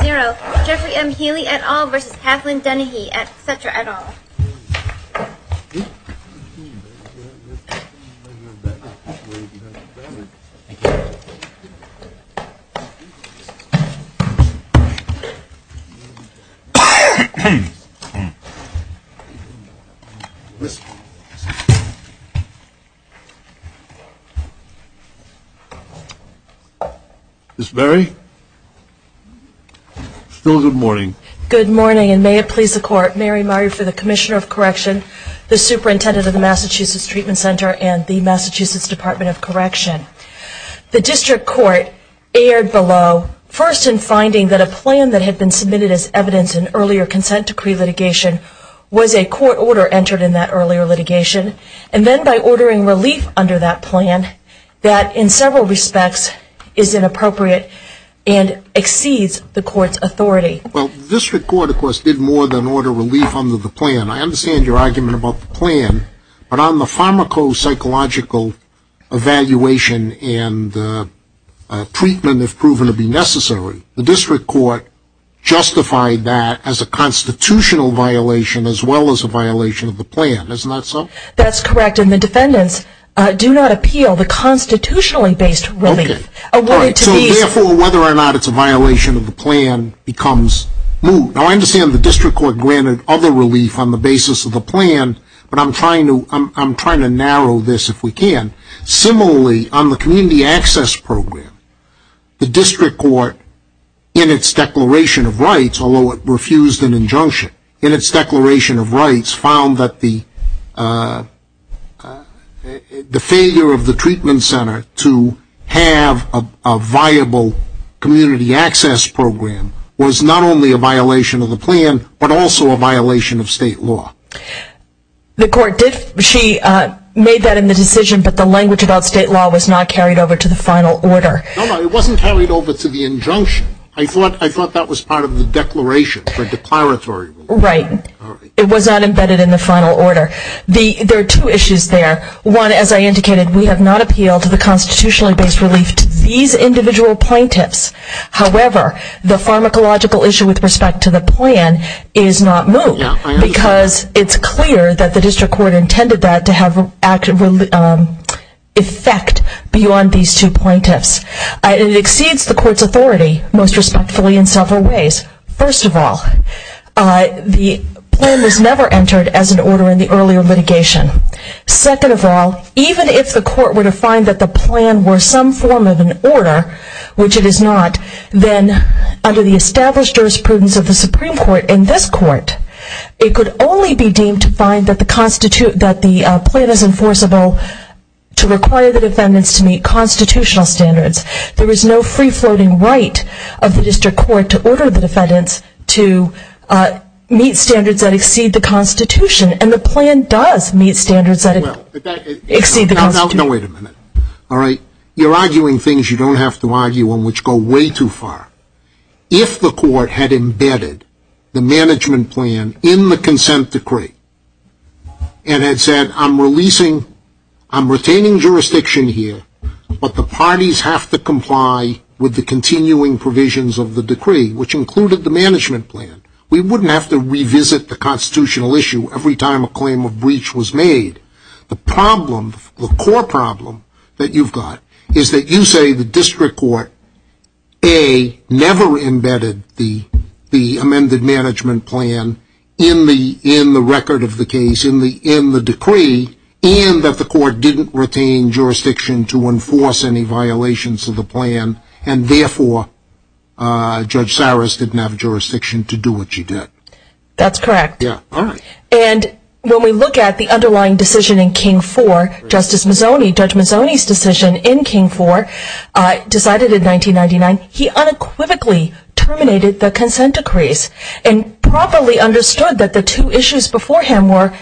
0.0 Jeffrey M. Healey et al. v. Kathleen Dennehy et cetera et al. Ms. Berry, still good morning. Good morning and may it please the Court, Mary Murray for the Commissioner of Correction, the Superintendent of the Massachusetts Treatment Center, and the Massachusetts Department of Correction. The District Court erred below, first in finding that a plan that had been submitted as evidence in earlier consent decree litigation was a court order entered in that earlier litigation, and then by ordering relief under that plan, that in several respects is inappropriate and exceeds the Court's authority. Well, the District Court, of course, did more than order relief under the plan. I understand your argument about the plan, but on the pharmacopsychological evaluation and treatment, if proven to be necessary, the District Court justified that as a constitutional violation as well as a violation of the plan. Isn't that so? That's correct, and the defendants do not appeal the constitutionally-based relief awarded to these. Therefore, whether or not it's a violation of the plan becomes moot. Now, I understand the District Court granted other relief on the basis of the plan, but I'm trying to narrow this if we can. Similarly, on the community access program, the District Court, in its declaration of rights, although it refused an injunction, in its declaration of rights found that the failure of the treatment center to have a viable community access program was not only a violation of the plan, but also a violation of state law. The Court did, she made that in the decision, but the language about state law was not carried over to the final order. No, no, it wasn't carried over to the injunction. I thought that was part of the declaration, the declaratory. Right. It was not embedded in the final order. There are two issues there. One, as I indicated, we have not appealed to the constitutionally-based relief to these individual plaintiffs. However, the pharmacological issue with respect to the plan is not moot because it's clear that the District Court intended that to have effect beyond these two plaintiffs. It exceeds the Court's authority, most respectfully, in several ways. First of all, the plan was never entered as an order in the earlier litigation. Second of all, even if the Court were to find that the plan were some form of an order, which it is not, then under the established jurisprudence of the Supreme Court in this Court, it could only be deemed to find that the plan is enforceable to require the defendants to meet constitutional standards. There is no free-floating right of the District Court to order the defendants to meet standards that exceed the Constitution, and the plan does meet standards that exceed the Constitution. Now, wait a minute. You're arguing things you don't have to argue on, which go way too far. If the Court had embedded the management plan in the consent decree and had said, I'm retaining jurisdiction here, but the parties have to comply with the continuing provisions of the decree, which included the management plan, we wouldn't have to revisit the constitutional issue every time a claim of breach was made. The problem, the core problem that you've got is that you say the District Court, A, never embedded the amended management plan in the record of the case, in the decree, and that the Court didn't retain jurisdiction to enforce any violations of the plan, and therefore Judge Saris didn't have jurisdiction to do what she did. That's correct. And when we look at the underlying decision in King 4, Justice Mazzoni, Judge Mazzoni's decision in King 4, decided in 1999, he unequivocally terminated the consent decrees and properly understood that the two issues before him were,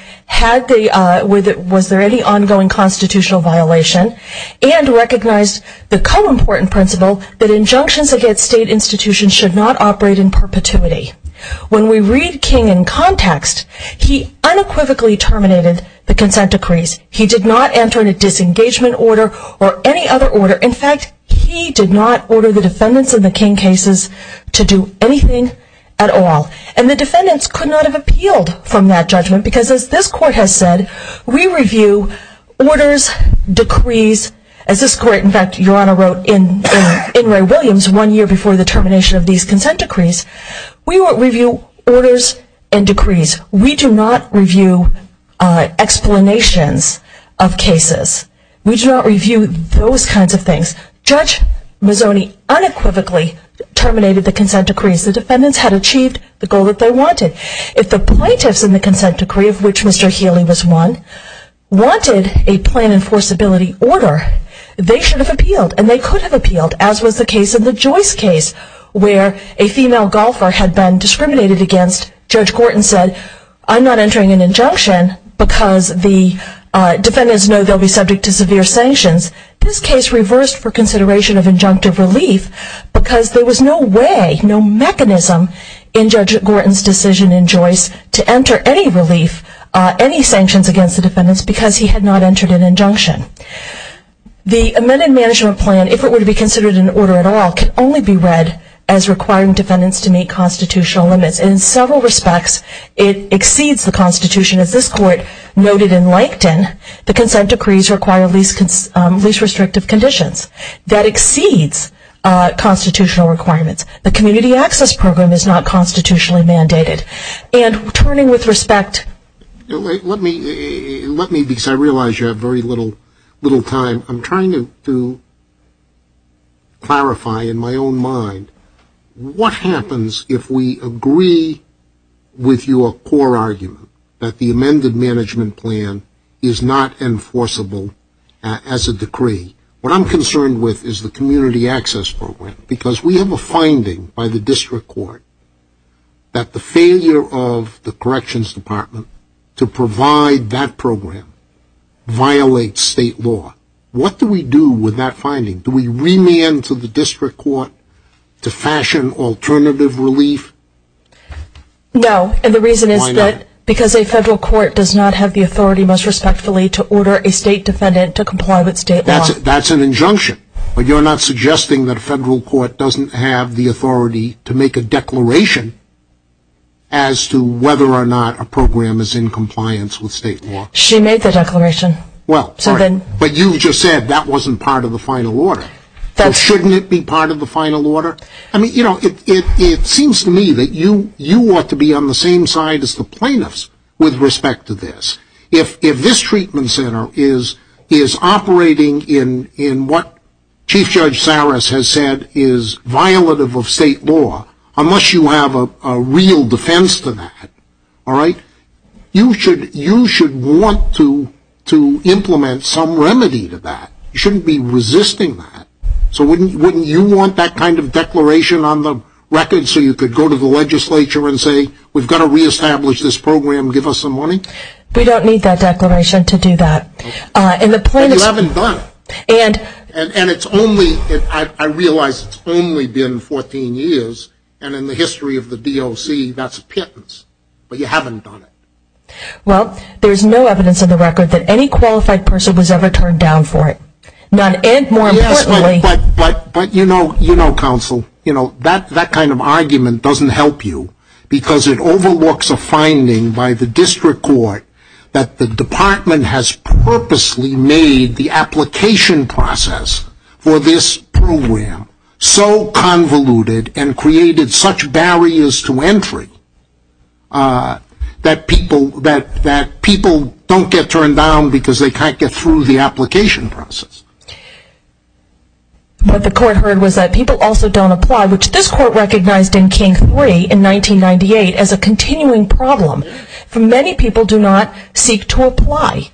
was there any ongoing constitutional violation, and recognized the co-important principle that injunctions against state institutions should not operate in perpetuity. When we read King in context, he unequivocally terminated the consent decrees. He did not enter in a disengagement order or any other order. In fact, he did not order the defendants in the King cases to do anything at all. And the defendants could not have appealed from that judgment, because as this Court has said, we review orders, decrees, as this Court, in fact, Your Honor wrote in Ray Williams one year before the termination of these consent decrees, we won't review orders and decrees. We do not review explanations of cases. We do not review those kinds of things. Judge Mazzoni unequivocally terminated the consent decrees. The defendants had achieved the goal that they wanted. If the plaintiffs in the consent decree, of which Mr. Healy was one, wanted a plan enforceability order, they should have appealed, and they could have appealed, as was the case of the Joyce case, where a female golfer had been discriminated against. Judge Gorton said, I'm not entering an injunction, because the defendants know they'll be subject to severe sanctions. This case reversed for consideration of injunctive relief, because there was no way, no mechanism in Judge Gorton's decision in Joyce to enter any relief, any sanctions against the defendants, because he had not entered an injunction. The amended management plan, if it were to be considered an order at all, can only be read as requiring defendants to meet constitutional limits. In several respects, it exceeds the Constitution. As this Court noted in Lankton, the consent decrees require least restrictive conditions. That exceeds constitutional requirements. The Community Access Program is not constitutionally mandated. And turning with respect... Let me, because I realize you have very little time, I'm trying to clarify in my own mind, what happens if we agree with your core argument, that the amended management plan is not enforceable as a decree? What I'm concerned with is the Community Access Program, because we have a finding by the District Court that the failure of the Corrections Department to provide that program violates state law. What do we do with that finding? Do we remand to the District Court to fashion alternative relief? No, and the reason is that because a federal court does not have the authority, most respectfully, to order a state defendant to comply with state law. That's an injunction, but you're not suggesting that a federal court doesn't have the authority to make a declaration as to whether or not a program is in compliance with state law? She made the declaration. Well, but you just said that wasn't part of the final order. Shouldn't it be part of the final order? I mean, you know, it seems to me that you ought to be on the same side as the plaintiffs with respect to this. If this treatment center is operating in what Chief Judge Saras has said is violative of state law, unless you have a real defense to that, all right, you should want to implement some remedy to that. You shouldn't be resisting that. So wouldn't you want that kind of declaration on the record so you could go to the legislature and say, we've got to reestablish this program, give us some money? We don't need that declaration to do that. And you haven't done it. And it's only, I realize it's only been 14 years, and in the history of the DOC, that's a pittance. But you haven't done it. Well, there's no evidence on the record that any qualified person was ever turned down for it. And more importantly... But you know, counsel, that kind of argument doesn't help you because it overlooks a finding by the district court that the department has purposely made the application process for this program so convoluted and created such barriers to entry that people don't get turned down because they can't get through the application process. What the court heard was that people also don't apply, which this court recognized in King 3 in 1998 as a continuing problem. Many people do not seek to apply.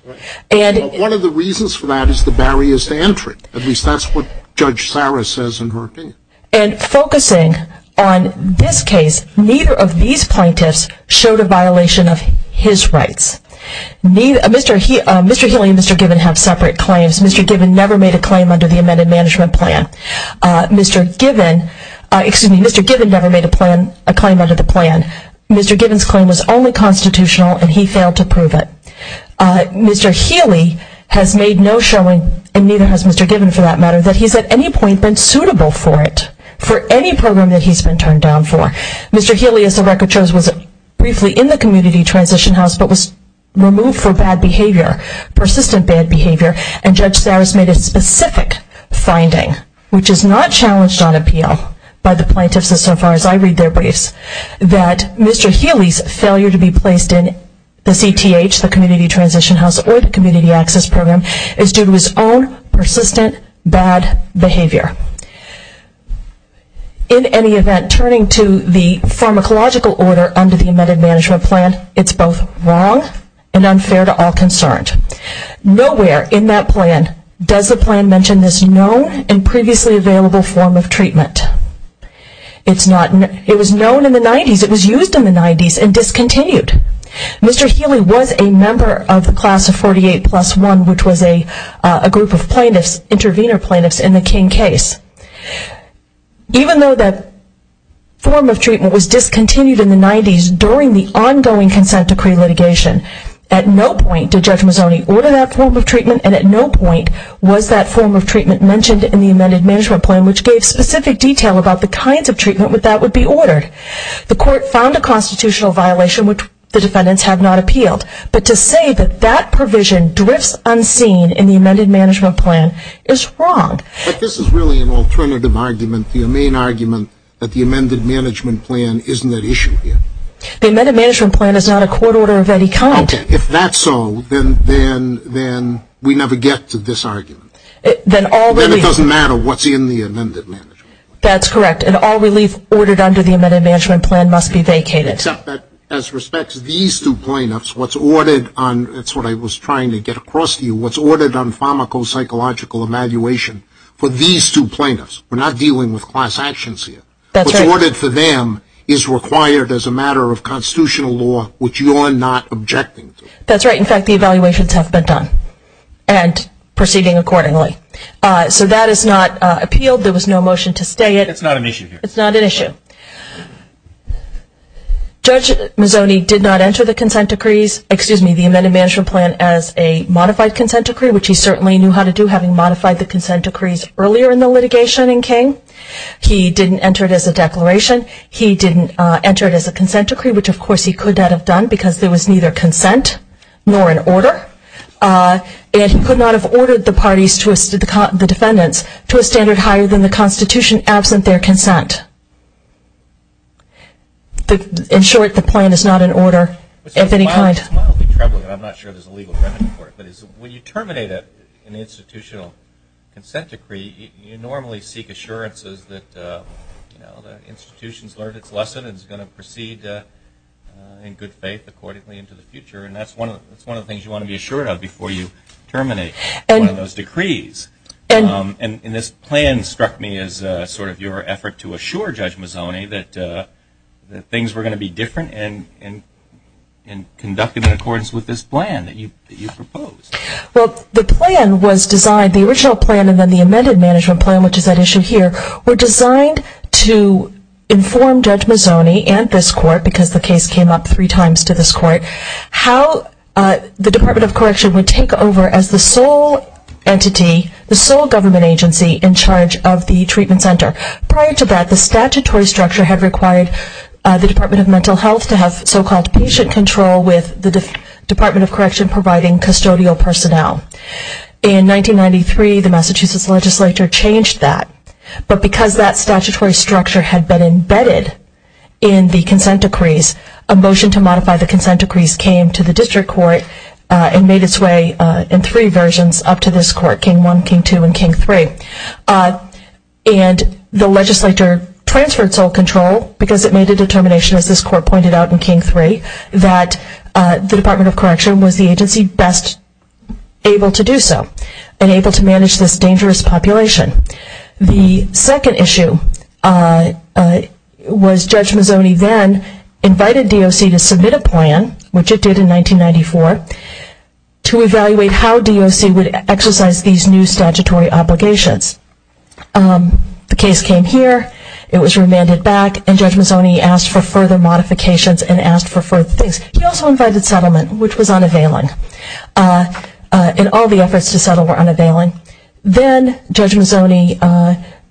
One of the reasons for that is the barriers to entry. At least that's what Judge Sarah says in her opinion. And focusing on this case, neither of these plaintiffs showed a violation of his rights. Mr. Healy and Mr. Gibbon have separate claims. Mr. Gibbon never made a claim under the amended management plan. Mr. Gibbon never made a claim under the plan. Mr. Gibbon's claim was only constitutional and he failed to prove it. Mr. Healy has made no showing, and neither has Mr. Gibbon for that matter, that he's at any point been suitable for it, for any program that he's been turned down for. Mr. Healy, as the record shows, was briefly in the Community Transition House but was removed for bad behavior, persistent bad behavior, and Judge Sarah's made a specific finding, which is not challenged on appeal by the plaintiffs as far as I read their briefs, that Mr. Healy's failure to be placed in the CTH, the Community Transition House, or the Community Access Program is due to his own persistent bad behavior. In any event, turning to the pharmacological order under the amended management plan, it's both wrong and unfair to all concerned. Nowhere in that plan does the plan mention this known and previously available form of treatment. It was known in the 90s, it was used in the 90s, and discontinued. Mr. Healy was a member of the class of 48 plus 1, which was a group of plaintiffs, intervenor plaintiffs, in the King case. Even though that form of treatment was discontinued in the 90s during the ongoing consent decree litigation, at no point did Judge Mazzoni order that form of treatment and at no point was that form of treatment mentioned in the amended management plan, which gave specific detail about the kinds of treatment that would be ordered. The court found a constitutional violation which the defendants have not appealed, but to say that that provision drifts unseen in the amended management plan is wrong. But this is really an alternative argument to your main argument that the amended management plan isn't at issue here. The amended management plan is not a court order of any kind. Okay, if that's so, then we never get to this argument. Then it doesn't matter what's in the amended management plan. That's correct, and all relief ordered under the amended management plan must be vacated. Except that as respects to these two plaintiffs, what's ordered on, that's what I was trying to get across to you, what's the ethical, psychological evaluation for these two plaintiffs? We're not dealing with class actions here. What's ordered for them is required as a matter of constitutional law, which you are not objecting to. That's right, in fact the evaluations have been done and proceeding accordingly. So that is not appealed, there was no motion to stay it. It's not an issue here. It's not an issue. Judge Mazzoni did not enter the consent decrees, excuse me, the amended management plan as a modified consent decree, which he certainly knew how to do having modified the consent decrees earlier in the litigation in King. He didn't enter it as a declaration. He didn't enter it as a consent decree, which of course he could not have done because there was neither consent nor an order. And he could not have ordered the parties, the defendants, to a standard higher than the Constitution absent their consent. In short, the plan is not an order of any kind. It's mildly troubling, and I'm not sure there's a legal remedy for it, but when you terminate an institutional consent decree, you normally seek assurances that the institution's learned its lesson and is going to proceed in good faith accordingly into the future. And that's one of the things you want to be assured of before you terminate one of those decrees. And this plan struck me as sort of your effort to assure Judge Mazzoni that things were going to be different and conducted in accordance with this plan that you proposed. Well, the plan was designed, the original plan and then the amended management plan, which is at issue here, were designed to inform Judge Mazzoni and this court, because the case came up three times to this court, how the Department of Correction would take over as the sole entity, the sole government agency, in charge of the treatment center. Prior to that, the statutory structure had required the Department of Mental Health to have so-called patient control with the Department of Correction providing custodial personnel. In 1993, the Massachusetts legislature changed that, but because that statutory structure had been embedded in the consent decrees, a motion to modify the consent decrees came to the district court and made its way in three versions up to this court, King I, King II, and King III. And the legislature transferred sole control because it made a determination, as this court pointed out in King III, that the Department of Correction was the agency best able to do so and able to manage this dangerous population. The second issue was Judge Mazzoni then invited DOC to submit a plan, which it did in 1994, to evaluate how DOC would exercise these new statutory obligations. The case came here, it was remanded back, and Judge Mazzoni asked for further modifications and asked for further things. He also invited settlement, which was unavailing, and all the efforts to settle were unavailing. Then Judge Mazzoni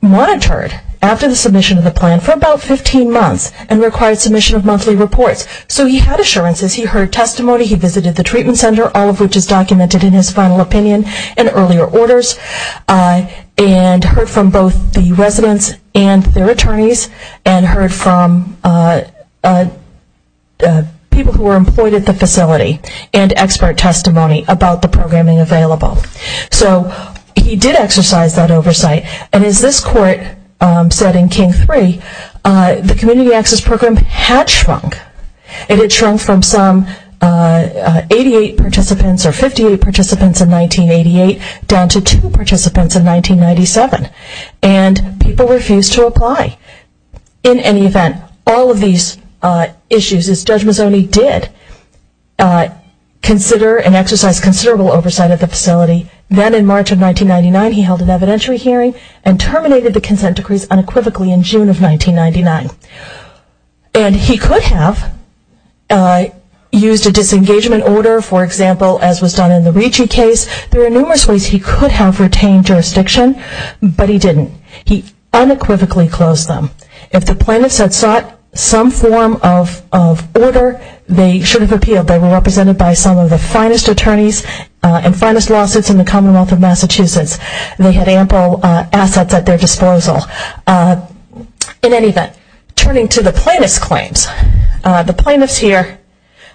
monitored after the submission of the plan for about 15 months and required submission of monthly reports. So he had assurances, he heard testimony, he visited the treatment center, all of which is documented in his final opinion and earlier orders, and heard from both the residents and their attorneys, and heard from people who were employed at the facility, and expert testimony about the programming available. So he did exercise that oversight, and as this court said in King III, the community access program had shrunk. It had shrunk from some 88 participants or 58 participants in 1988 down to two participants in 1997, and people refused to apply. In any event, all of these issues, as Judge Mazzoni did, consider and exercise considerable oversight of the facility. Then in March of 1999, he held an evidentiary hearing and terminated the consent decrees unequivocally in June of 1999. And he could have used a disengagement order, for example, as was done in the Ricci case. There were numerous ways he could have retained jurisdiction, but he didn't. He unequivocally closed them. If the plaintiffs had sought some form of order, they should have appealed. They were represented by some of the finest attorneys and finest lawsuits in the Commonwealth of Massachusetts. They had ample assets at their disposal. In any event, turning to the plaintiff's claims, the plaintiffs here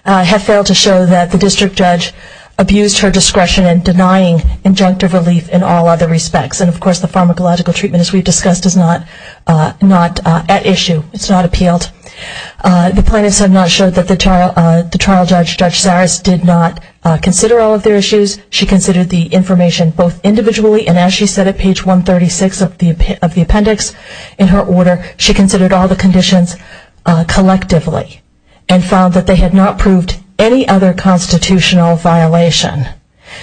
have failed to show that the district judge abused her discretion in denying injunctive relief in all other respects. And of course, the pharmacological treatment, as we discussed, is not at issue. It's not appealed. The plaintiffs have not showed that the trial judge, Judge Zares, did not consider all of their issues. She considered the information both individually and as she said at page 136 of the appendix in her order, she considered all of the conditions collectively and found that they had not proved any other constitutional violation.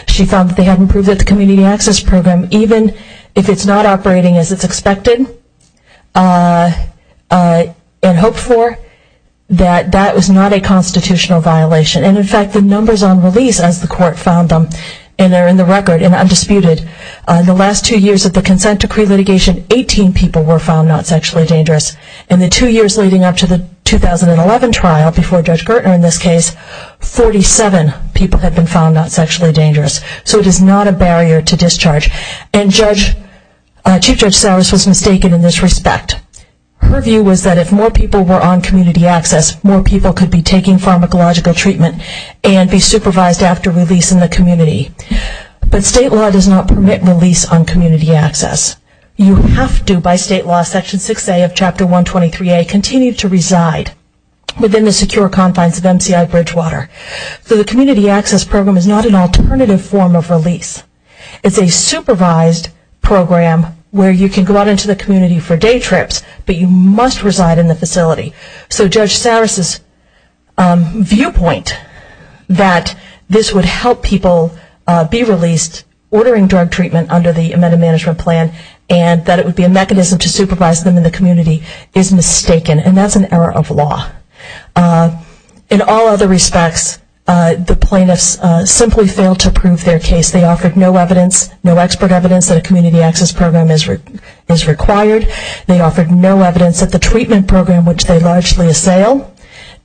She found that they hadn't proved that the Community Access Program, even if it's not operating as it's expected and hoped for, that that was not a constitutional violation. And in fact, the numbers on release, as the court found them, and they're in the record and the last two years of the consent decree litigation, 18 people were found not sexually dangerous. In the two years leading up to the 2011 trial, before Judge Gertner in this case, 47 people have been found not sexually dangerous. So it is not a barrier to discharge. And Judge, Chief Judge Zares was mistaken in this respect. Her view was that if more people were on community access, more people could be taking pharmacological treatment and be supervised after release in the community. But state law does not permit release on community access. You have to, by state law, Section 6A of Chapter 123A, continue to reside within the secure confines of MCI Bridgewater. So the Community Access Program is not an alternative form of release. It's a supervised program where you can go out into the community for day trips, but you must reside in the facility. So Judge Zares' viewpoint that this would help people be released ordering drug treatment under the amended management plan and that it would be a mechanism to supervise them in the community is mistaken. And that's an error of law. In all other respects, the plaintiffs simply failed to prove their case. They offered no evidence, no expert evidence that a community access program is required. They offered no evidence that the treatment program which they largely assail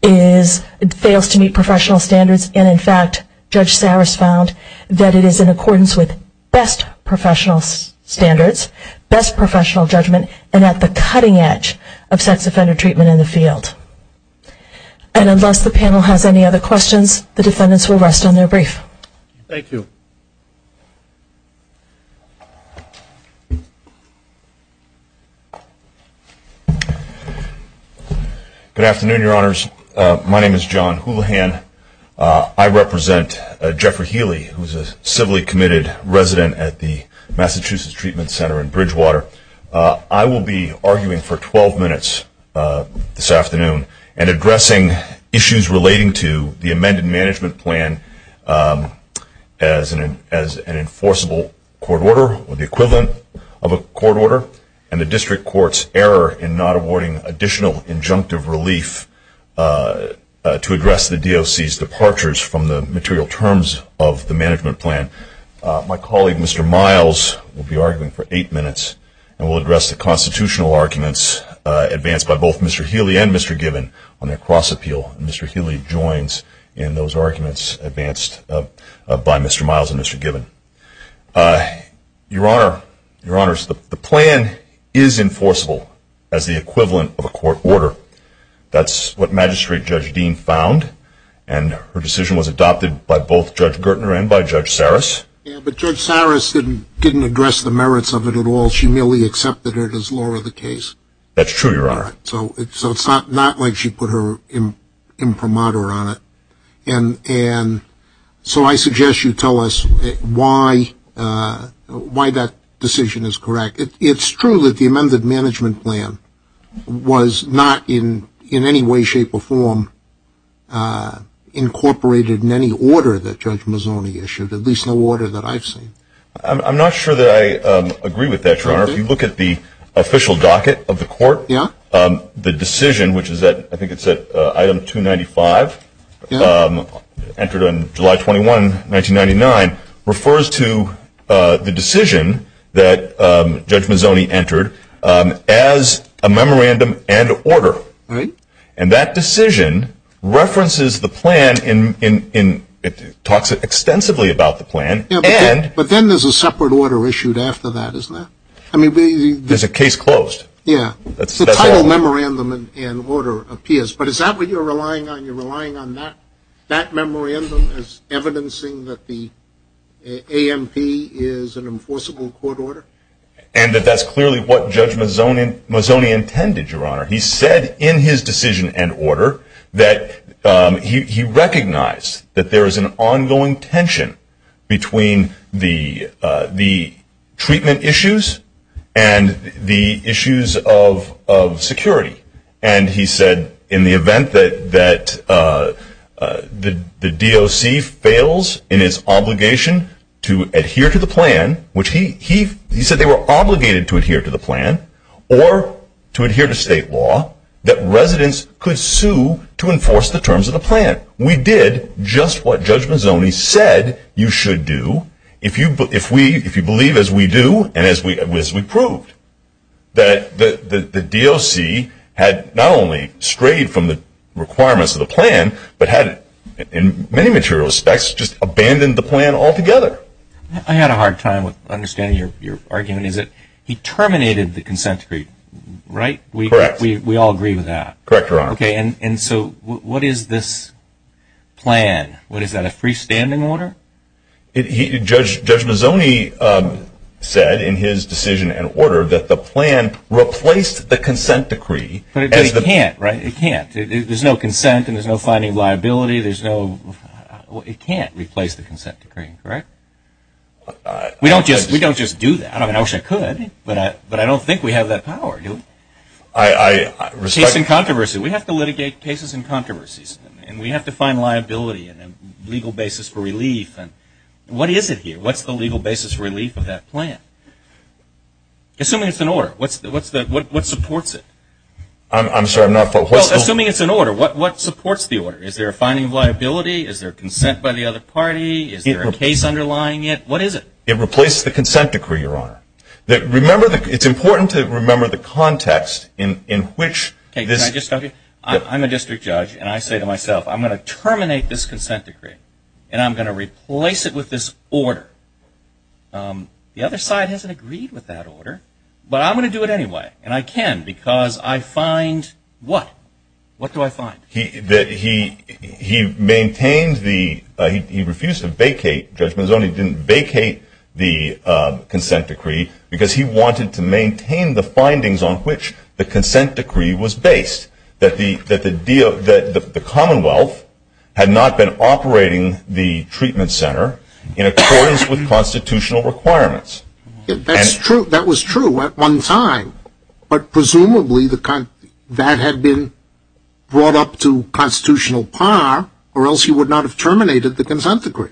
fails to meet professional standards. And in fact, Judge Zares found that it is in accordance with best professional standards, best professional judgment, and at the cutting edge of sex offender treatment in the field. And unless the panel has any other questions, the defendants will rest on their brief. Thank you. Good afternoon, Your Honors. My name is John Houlihan. I represent Jeffrey Healy, who is a civilly committed resident at the Massachusetts Treatment Center in Bridgewater. I will be arguing for 12 minutes this afternoon and addressing issues relating to the amended management plan as an enforceable court order or the equivalent of a court order and the district court's error in not awarding additional injunctive relief to address the DOC's departures from the material terms of the management plan. My colleague, Mr. Miles, will be arguing for eight minutes and will address the constitutional arguments advanced by both Mr. Healy and Mr. Given. Your Honors, the plan is enforceable as the equivalent of a court order. That's what Magistrate Judge Dean found, and her decision was adopted by both Judge Gertner and by Judge Zares. But Judge Zares didn't address the merits of it at all. She merely accepted it as law of the case. That's true, Your Honor. So it's not like she put her imprimatur on it. So I suggest you tell us why that decision is correct. It's true that the amended management plan was not in any way, shape, or form incorporated in any order that Judge Mazzoni issued, at least no order that I've seen. I'm not sure that I agree with that, Your Honor. If you look at the official docket of the court, the decision, which is at, I think it's at item 295, entered on July 21, 1999, refers to the decision that Judge Mazzoni entered as a memorandum and order. And that then there's a separate order issued after that, isn't there? There's a case closed. Yeah. The title memorandum and order appears, but is that what you're relying on? You're relying on that memorandum as evidencing that the AMP is an enforceable court order? And that that's clearly what Judge Mazzoni intended, Your Honor. He said in his decision and order that he recognized that there is an ongoing tension between the treatment issues and the issues of security. And he said in the event that the DOC fails in its obligation to adhere to the plan, which he said they were obligated to adhere to the plan, or to enforce the terms of the plan. We did just what Judge Mazzoni said you should do if you believe, as we do and as we proved, that the DOC had not only strayed from the requirements of the plan, but had, in many material respects, just abandoned the plan altogether. I had a hard time understanding your argument. Is it he terminated the consent decree, right? Correct. We all agree with that. Correct, Your Honor. Okay, and so what is this plan? What is that, a freestanding order? Judge Mazzoni said in his decision and order that the plan replaced the consent decree. But it can't, right? It can't. There's no consent and there's no finding liability. There's no... It can't replace the consent decree, correct? We don't just do that. I mean, I wish I could, but I don't think we have that power, do we? Cases and controversies. We have to litigate cases and controversies. And we have to find liability and a legal basis for relief. What is it here? What's the legal basis for relief of that plan? Assuming it's an order, what supports it? I'm sorry, I'm not... Assuming it's an order, what supports the order? Is there a finding of liability? Is there consent by the other party? Is there a case underlying it? What is it? It replaces the consent decree, Your Honor. It's important to remember the context in which this... Can I just tell you? I'm a district judge and I say to myself, I'm going to terminate this consent decree and I'm going to replace it with this order. The other side hasn't agreed with that order, but I'm going to do it anyway. And I can because I find what? What do I find? He maintained the... He refused to vacate judgment zone. He didn't vacate the consent decree because he wanted to maintain the findings on which the consent decree was based. That the Commonwealth had not been operating the treatment center in accordance with constitutional requirements. That's true. That was true at one time. But presumably that had been brought up to constitutional par or else he would not have terminated the consent decree.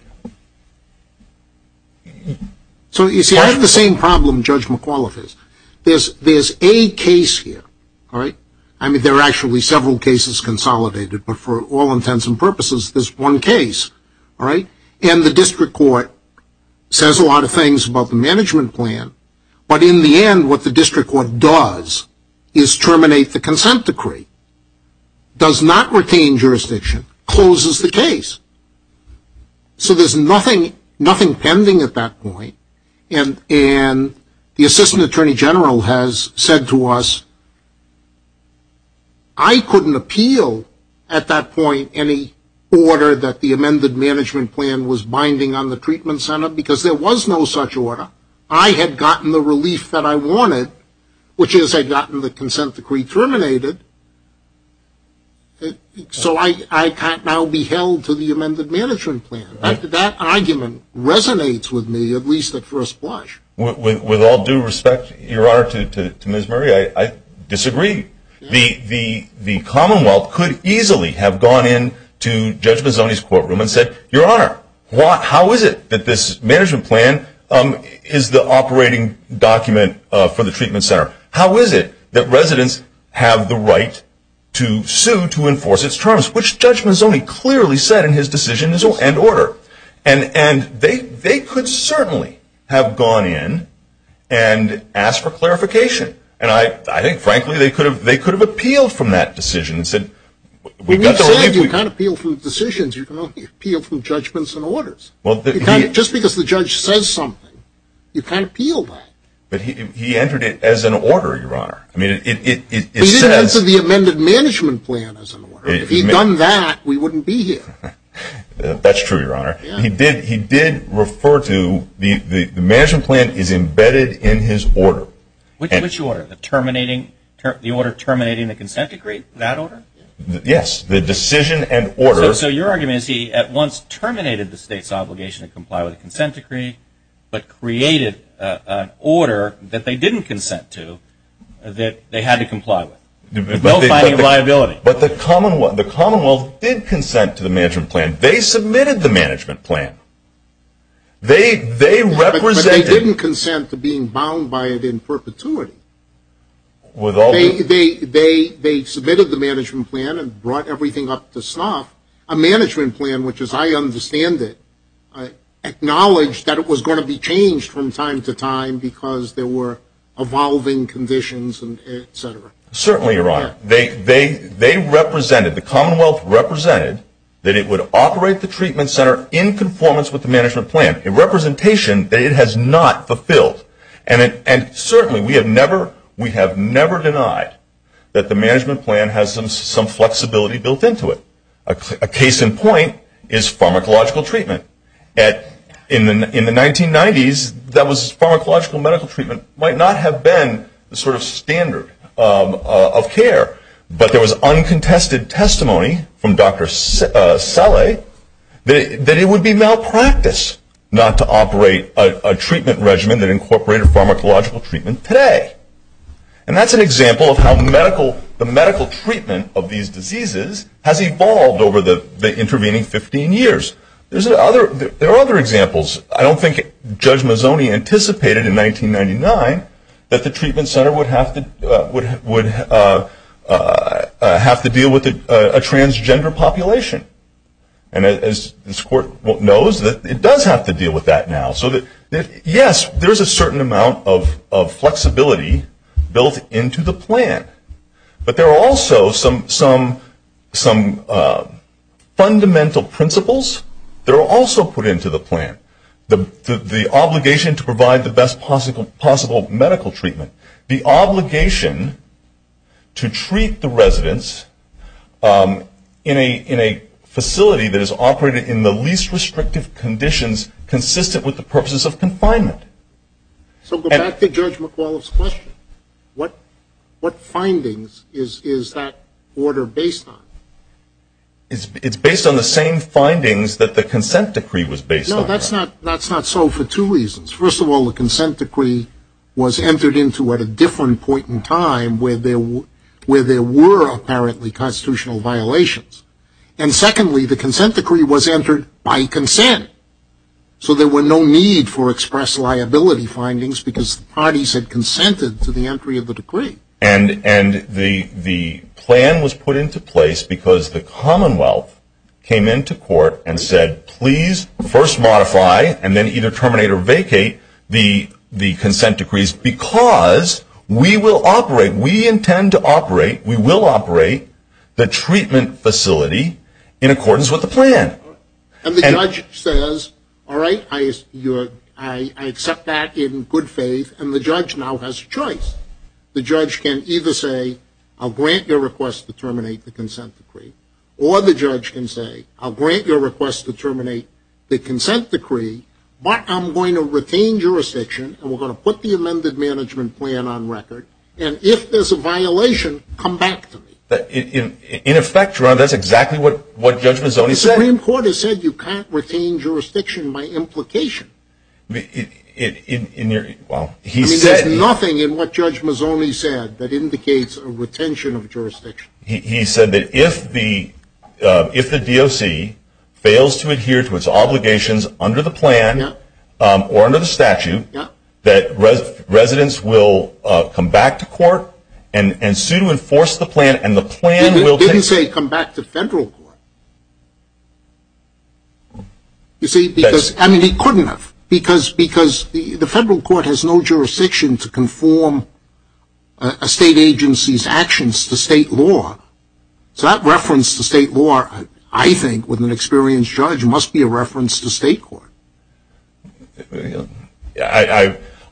So you see, I have the same problem Judge McAuliffe has. There's a case here, all right? I mean, there are actually several cases consolidated, but for all intents and purposes, there's one case, all right? And the district court says a lot of things about the management plan, but in the end what the district court does is terminate the consent decree. Does not retain jurisdiction. Closes the case. So there's nothing pending at that point. And the assistant attorney general has said to us, I couldn't appeal at that point any order that the amended management plan was binding on the treatment center because there was no such order. I had gotten the relief that I wanted, which is I'd gotten the consent decree terminated. So I can't now be held to the amended management plan. That argument resonates with me, at least at first blush. With all due respect, Your Honor, to Ms. Murray, I disagree. The Commonwealth could easily have gone in to Judge Mazzoni's courtroom and said, Your Honor, how is it that this management plan is the operating document for the treatment center? How is it that residents have the right to sue to enforce its terms, which Judge Mazzoni clearly said in his decision is end order. And they could certainly have gone in and asked for clarification. And I think, frankly, they could have appealed from that decision and said, You can't appeal from decisions. You can only appeal from judgments and orders. Just because the judge says something, you can't appeal that. But he entered it as an order, Your Honor. He did enter the amended management plan as an order. If he'd done that, we wouldn't be here. That's true, Your Honor. He did refer to the management plan is embedded in his order. Which order? The order terminating the consent decree? That order? Yes, the decision and order. So your argument is he at once terminated the state's obligation to comply with the consent decree, but created an order that they didn't consent to that they had to comply with. No finding of liability. But the Commonwealth did consent to the management plan. They submitted the management plan. But they didn't consent to being bound by it in perpetuity. They submitted the management plan and brought everything up to snuff. A management plan, which as I understand it, acknowledged that it was going to be changed from time to time because there were evolving conditions, et cetera. Certainly, Your Honor. They represented, the Commonwealth represented, that it would operate the treatment center in conformance with the management plan, a representation that it has not fulfilled. And certainly we have never denied that the management plan has some flexibility built into it. A case in point is pharmacological treatment. In the 1990s, pharmacological medical treatment might not have been the sort of standard of care, but there was uncontested testimony from Dr. Saleh that it would be malpractice not to operate a treatment regimen that incorporated pharmacological treatment today. And that's an example of how the medical treatment of these diseases has evolved over the intervening 15 years. There are other examples. I don't think Judge Mazzoni anticipated in 1999 that the treatment center would have to deal with a transgender population. And as this Court knows, it does have to deal with that now. So yes, there is a certain amount of flexibility built into the plan. But there are also some fundamental principles that are also put into the plan. The obligation to provide the best possible medical treatment. The obligation to treat the residents in a facility that is operated in the least restrictive conditions, consistent with the purposes of confinement. So go back to Judge McAuliffe's question. What findings is that order based on? It's based on the same findings that the consent decree was based on. No, that's not so for two reasons. First of all, the consent decree was entered into at a different point in time where there were apparently constitutional violations. And secondly, the consent decree was entered by consent. So there were no need for express liability findings because the parties had consented to the entry of the decree. And the plan was put into place because the Commonwealth came into court and said, please first modify and then either terminate or vacate the consent decrees because we will operate, we intend to operate, we will operate the treatment facility in accordance with the plan. And the judge says, all right, I accept that in good faith. And the judge now has a choice. The judge can either say, I'll grant your request to terminate the consent decree, or the judge can say, I'll grant your request to terminate the consent decree, but I'm going to retain jurisdiction and we're going to put the amended management plan on record. And if there's a violation, come back to me. In effect, Ron, that's exactly what Judge Mazzoni said. The Supreme Court has said you can't retain jurisdiction by implication. There's nothing in what Judge Mazzoni said that indicates a retention of jurisdiction. He said that if the DOC fails to adhere to its obligations under the plan or under the statute, that residents will come back to court and sue to enforce the plan, and the plan will take. He didn't say come back to federal court. You see, because, I mean, he couldn't have. Because the federal court has no jurisdiction to conform a state agency's actions to state law. So that reference to state law, I think, with an experienced judge, must be a reference to state court.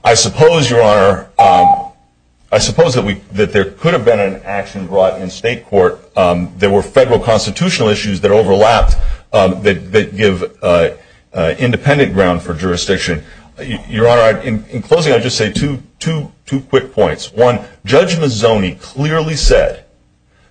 I suppose, Your Honor, I suppose that there could have been an action brought in state court. There were federal constitutional issues that overlapped that give independent ground for jurisdiction. Your Honor, in closing, I'll just say two quick points. One, Judge Mazzoni clearly said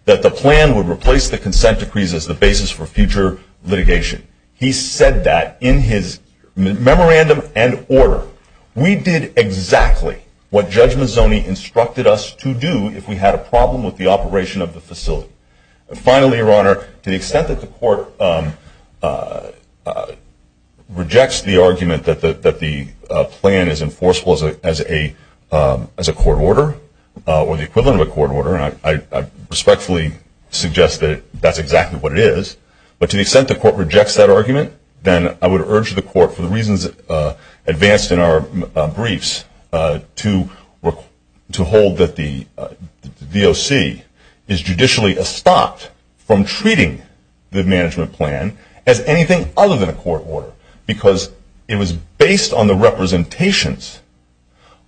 that the plan would replace the consent decrees as the basis for future litigation. He said that in his memorandum and order. We did exactly what Judge Mazzoni instructed us to do if we had a problem with the operation of the facility. And finally, Your Honor, to the extent that the court rejects the argument that the plan is enforceable as a court order, or the equivalent of a court order, and I respectfully suggest that that's exactly what it is, but to the extent that the court rejects that argument, then I would urge the court, for the reasons advanced in our briefs, to hold that the DOC is judicially estopped from treating the management plan as anything other than a court order. Because it was based on the representations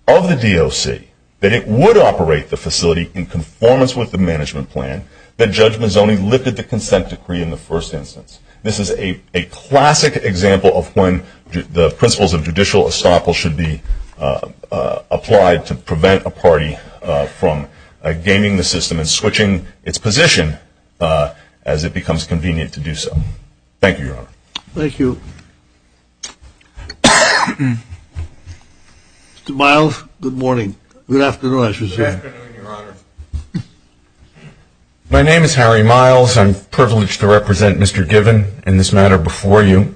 of the DOC that it would operate the facility in conformance with the management plan that Judge Mazzoni lifted the consent decree in the first instance. This is a classic example of when the principles of judicial estoppel should be applied to prevent a party from gaming the system and switching its position as it becomes convenient to do so. Thank you, Your Honor. Thank you. Mr. Miles, good morning. Good afternoon, Your Honor. My name is Harry Miles. I'm privileged to represent Mr. Given in this matter before you.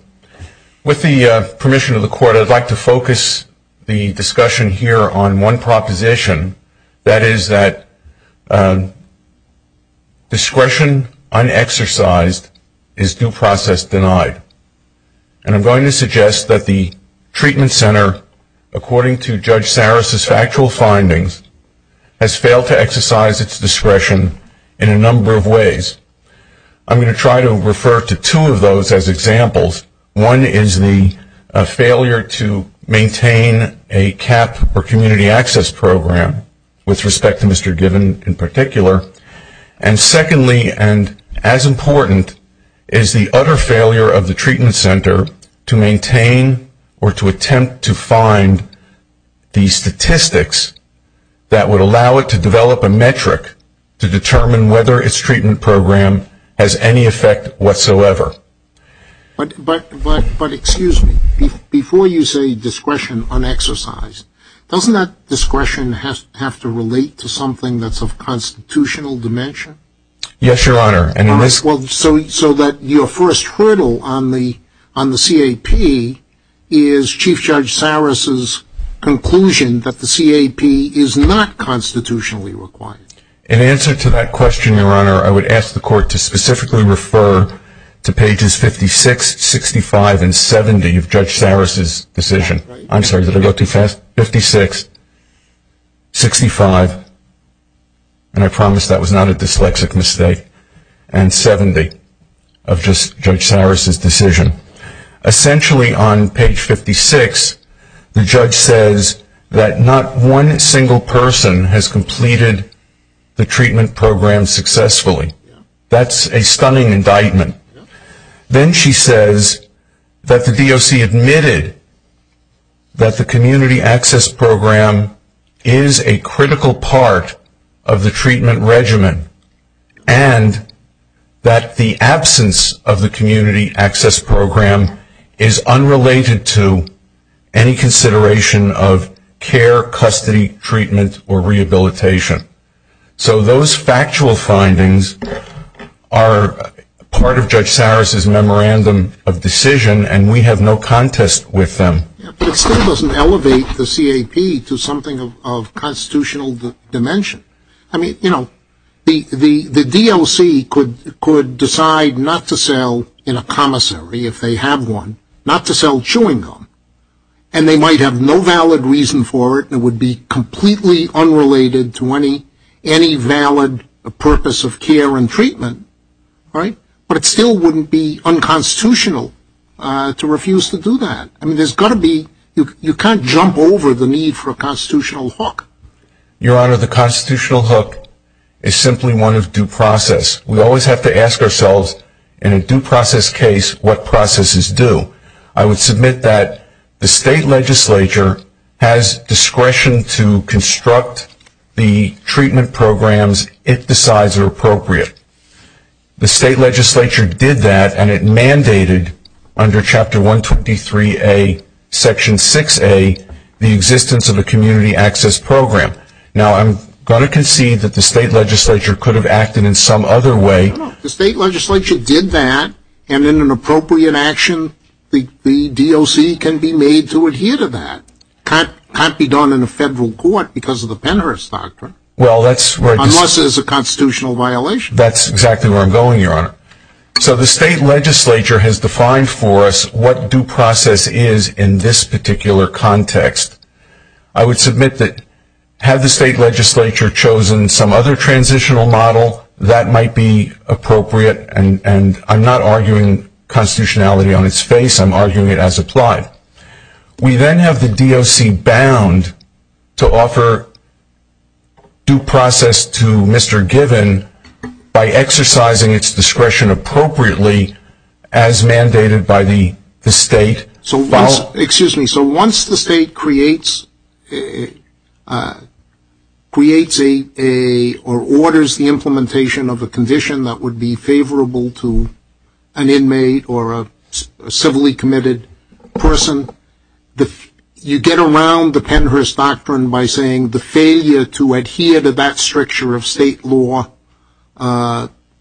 With the permission of the court, I'd like to focus the discussion here on one proposition, that is that discretion unexercised is due process denied. And I'm going to suggest that the treatment center, according to Judge Saris' factual findings, has failed to exercise its discretion in a number of ways. I'm going to try to refer to two of those as examples. One is the failure to maintain a CAP or community access program, with respect to Mr. Given in particular. And secondly, and as important, is the utter failure of the treatment center to maintain or to attempt to find the statistics that would allow it to develop a metric to determine whether its treatment program has any effect whatsoever. But, excuse me, before you say discretion unexercised, doesn't that discretion have to relate to something that's of constitutional dimension? Yes, Your Honor. So that your first hurdle on the CAP is Chief Judge Saris' conclusion that the CAP is not constitutionally required. In answer to that question, Your Honor, I would ask the court to specifically refer to pages 56, 65, and 70 of Judge Saris' decision. I'm sorry, did I go too fast? 56, 65, and I promise that was not a dyslexic mistake, and 70 of Judge Saris' decision. Essentially on page 56, the judge says that not one single person has completed the treatment program successfully. That's a stunning indictment. Then she says that the DOC admitted that the community access program is a critical part of the treatment regimen and that the absence of the community access program is unrelated to any consideration of care, custody, treatment, or rehabilitation. So those factual findings are part of Judge Saris' memorandum of decision, and we have no contest with them. But it still doesn't elevate the CAP to something of constitutional dimension. I mean, you know, the DLC could decide not to sell in a commissary if they have one, not to sell chewing gum, and they might have no valid reason for it and it would be completely unrelated to any valid purpose of care and treatment, right? But it still wouldn't be unconstitutional to refuse to do that. I mean, there's got to be, you can't jump over the need for a constitutional hook. Your Honor, the constitutional hook is simply one of due process. We always have to ask ourselves, in a due process case, what processes do? I would submit that the state legislature has discretion to construct the treatment programs if the size are appropriate. The state legislature did that, and it mandated under Chapter 123A, Section 6A, the existence of a community access program. Now, I'm going to concede that the state legislature could have acted in some other way. The state legislature did that, and in an appropriate action, the DLC can be made to adhere to that. It can't be done in a federal court because of the Pennhurst Doctrine. Unless there's a constitutional violation. That's exactly where I'm going, Your Honor. So the state legislature has defined for us what due process is in this particular context. I would submit that had the state legislature chosen some other transitional model, that might be appropriate, and I'm not arguing constitutionality on its face. I'm arguing it as applied. We then have the DLC bound to offer due process to Mr. Given by exercising its discretion appropriately as mandated by the state. Excuse me. So once the state creates or orders the implementation of a condition that would be favorable to an inmate or a civilly committed person, you get around the Pennhurst Doctrine by saying the failure to adhere to that structure of state law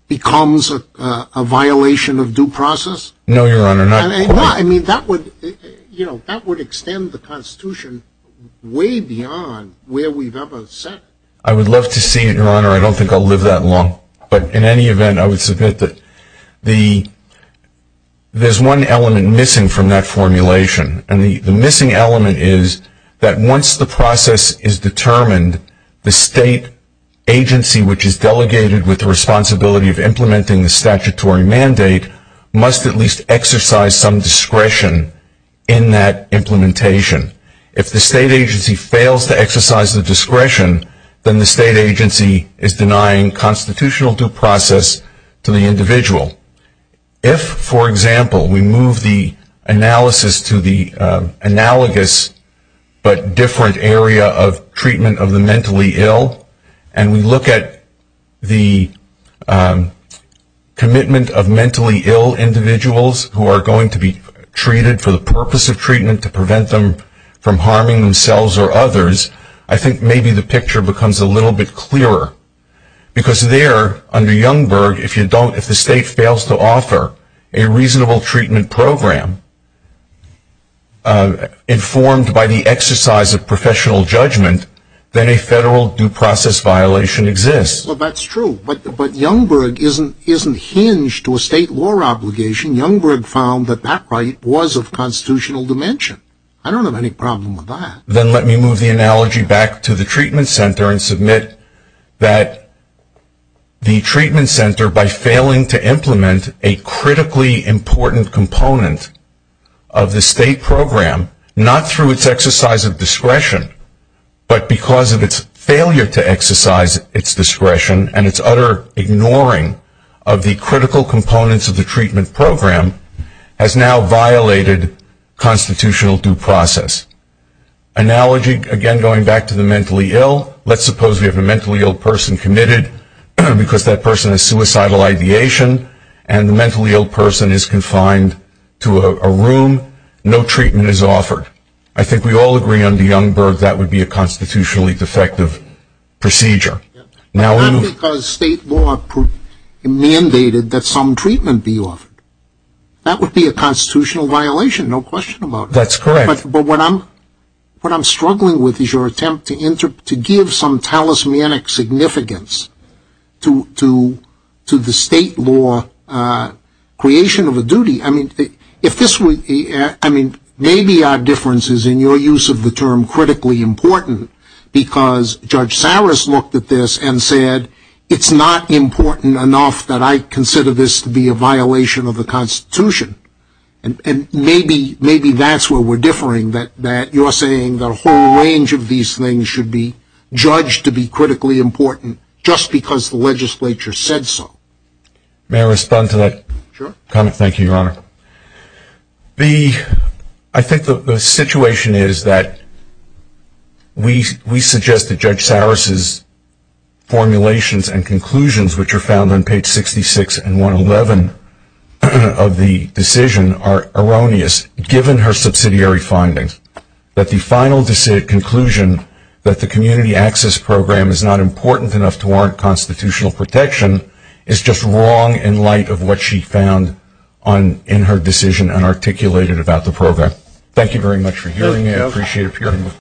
becomes a violation of due process? No, Your Honor. I mean, that would extend the Constitution way beyond where we've ever set it. I would love to see it, Your Honor. I don't think I'll live that long. But in any event, I would submit that there's one element missing from that formulation, and the missing element is that once the process is determined, the state agency which is delegated with the responsibility of implementing the statutory mandate must at least exercise some discretion in that implementation. If the state agency fails to exercise the discretion, then the state agency is denying constitutional due process to the individual. If, for example, we move the analysis to the analogous but different area of treatment of the mentally ill, and we look at the commitment of mentally ill individuals who are going to be treated for the purpose of treatment to prevent them from harming themselves or others, I think maybe the picture becomes a little bit clearer. Because there, under Youngberg, if the state fails to offer a reasonable treatment program informed by the exercise of professional judgment, then a federal due process violation exists. Well, that's true. But Youngberg isn't hinged to a state law obligation. Youngberg found that that right was of constitutional dimension. I don't have any problem with that. Then let me move the analogy back to the treatment center and submit that the treatment center, by failing to implement a critically important component of the state program, not through its exercise of discretion, but because of its failure to exercise its discretion and its utter ignoring of the critical components of the treatment program, has now violated constitutional due process. Analogy, again, going back to the mentally ill. Let's suppose we have a mentally ill person committed because that person has suicidal ideation, and the mentally ill person is confined to a room. No treatment is offered. I think we all agree under Youngberg that would be a constitutionally defective procedure. Not because state law mandated that some treatment be offered. That would be a constitutional violation, no question about it. That's correct. But what I'm struggling with is your attempt to give some talismanic significance to the state law creation of a duty. I mean, maybe our difference is, in your use of the term, critically important, because Judge Saris looked at this and said, it's not important enough that I consider this to be a violation of the Constitution. And maybe that's where we're differing, that you're saying that a whole range of these things should be judged to be critically important, just because the legislature said so. May I respond to that comment? Sure. Thank you, Your Honor. I think the situation is that we suggest that Judge Saris' formulations and conclusions, which are found on page 66 and 111 of the decision are erroneous, given her subsidiary findings, that the final conclusion that the Community Access Program is not important enough to warrant constitutional protection is just wrong in light of what she found in her decision and articulated about the program. Thank you very much for hearing me. I appreciate it.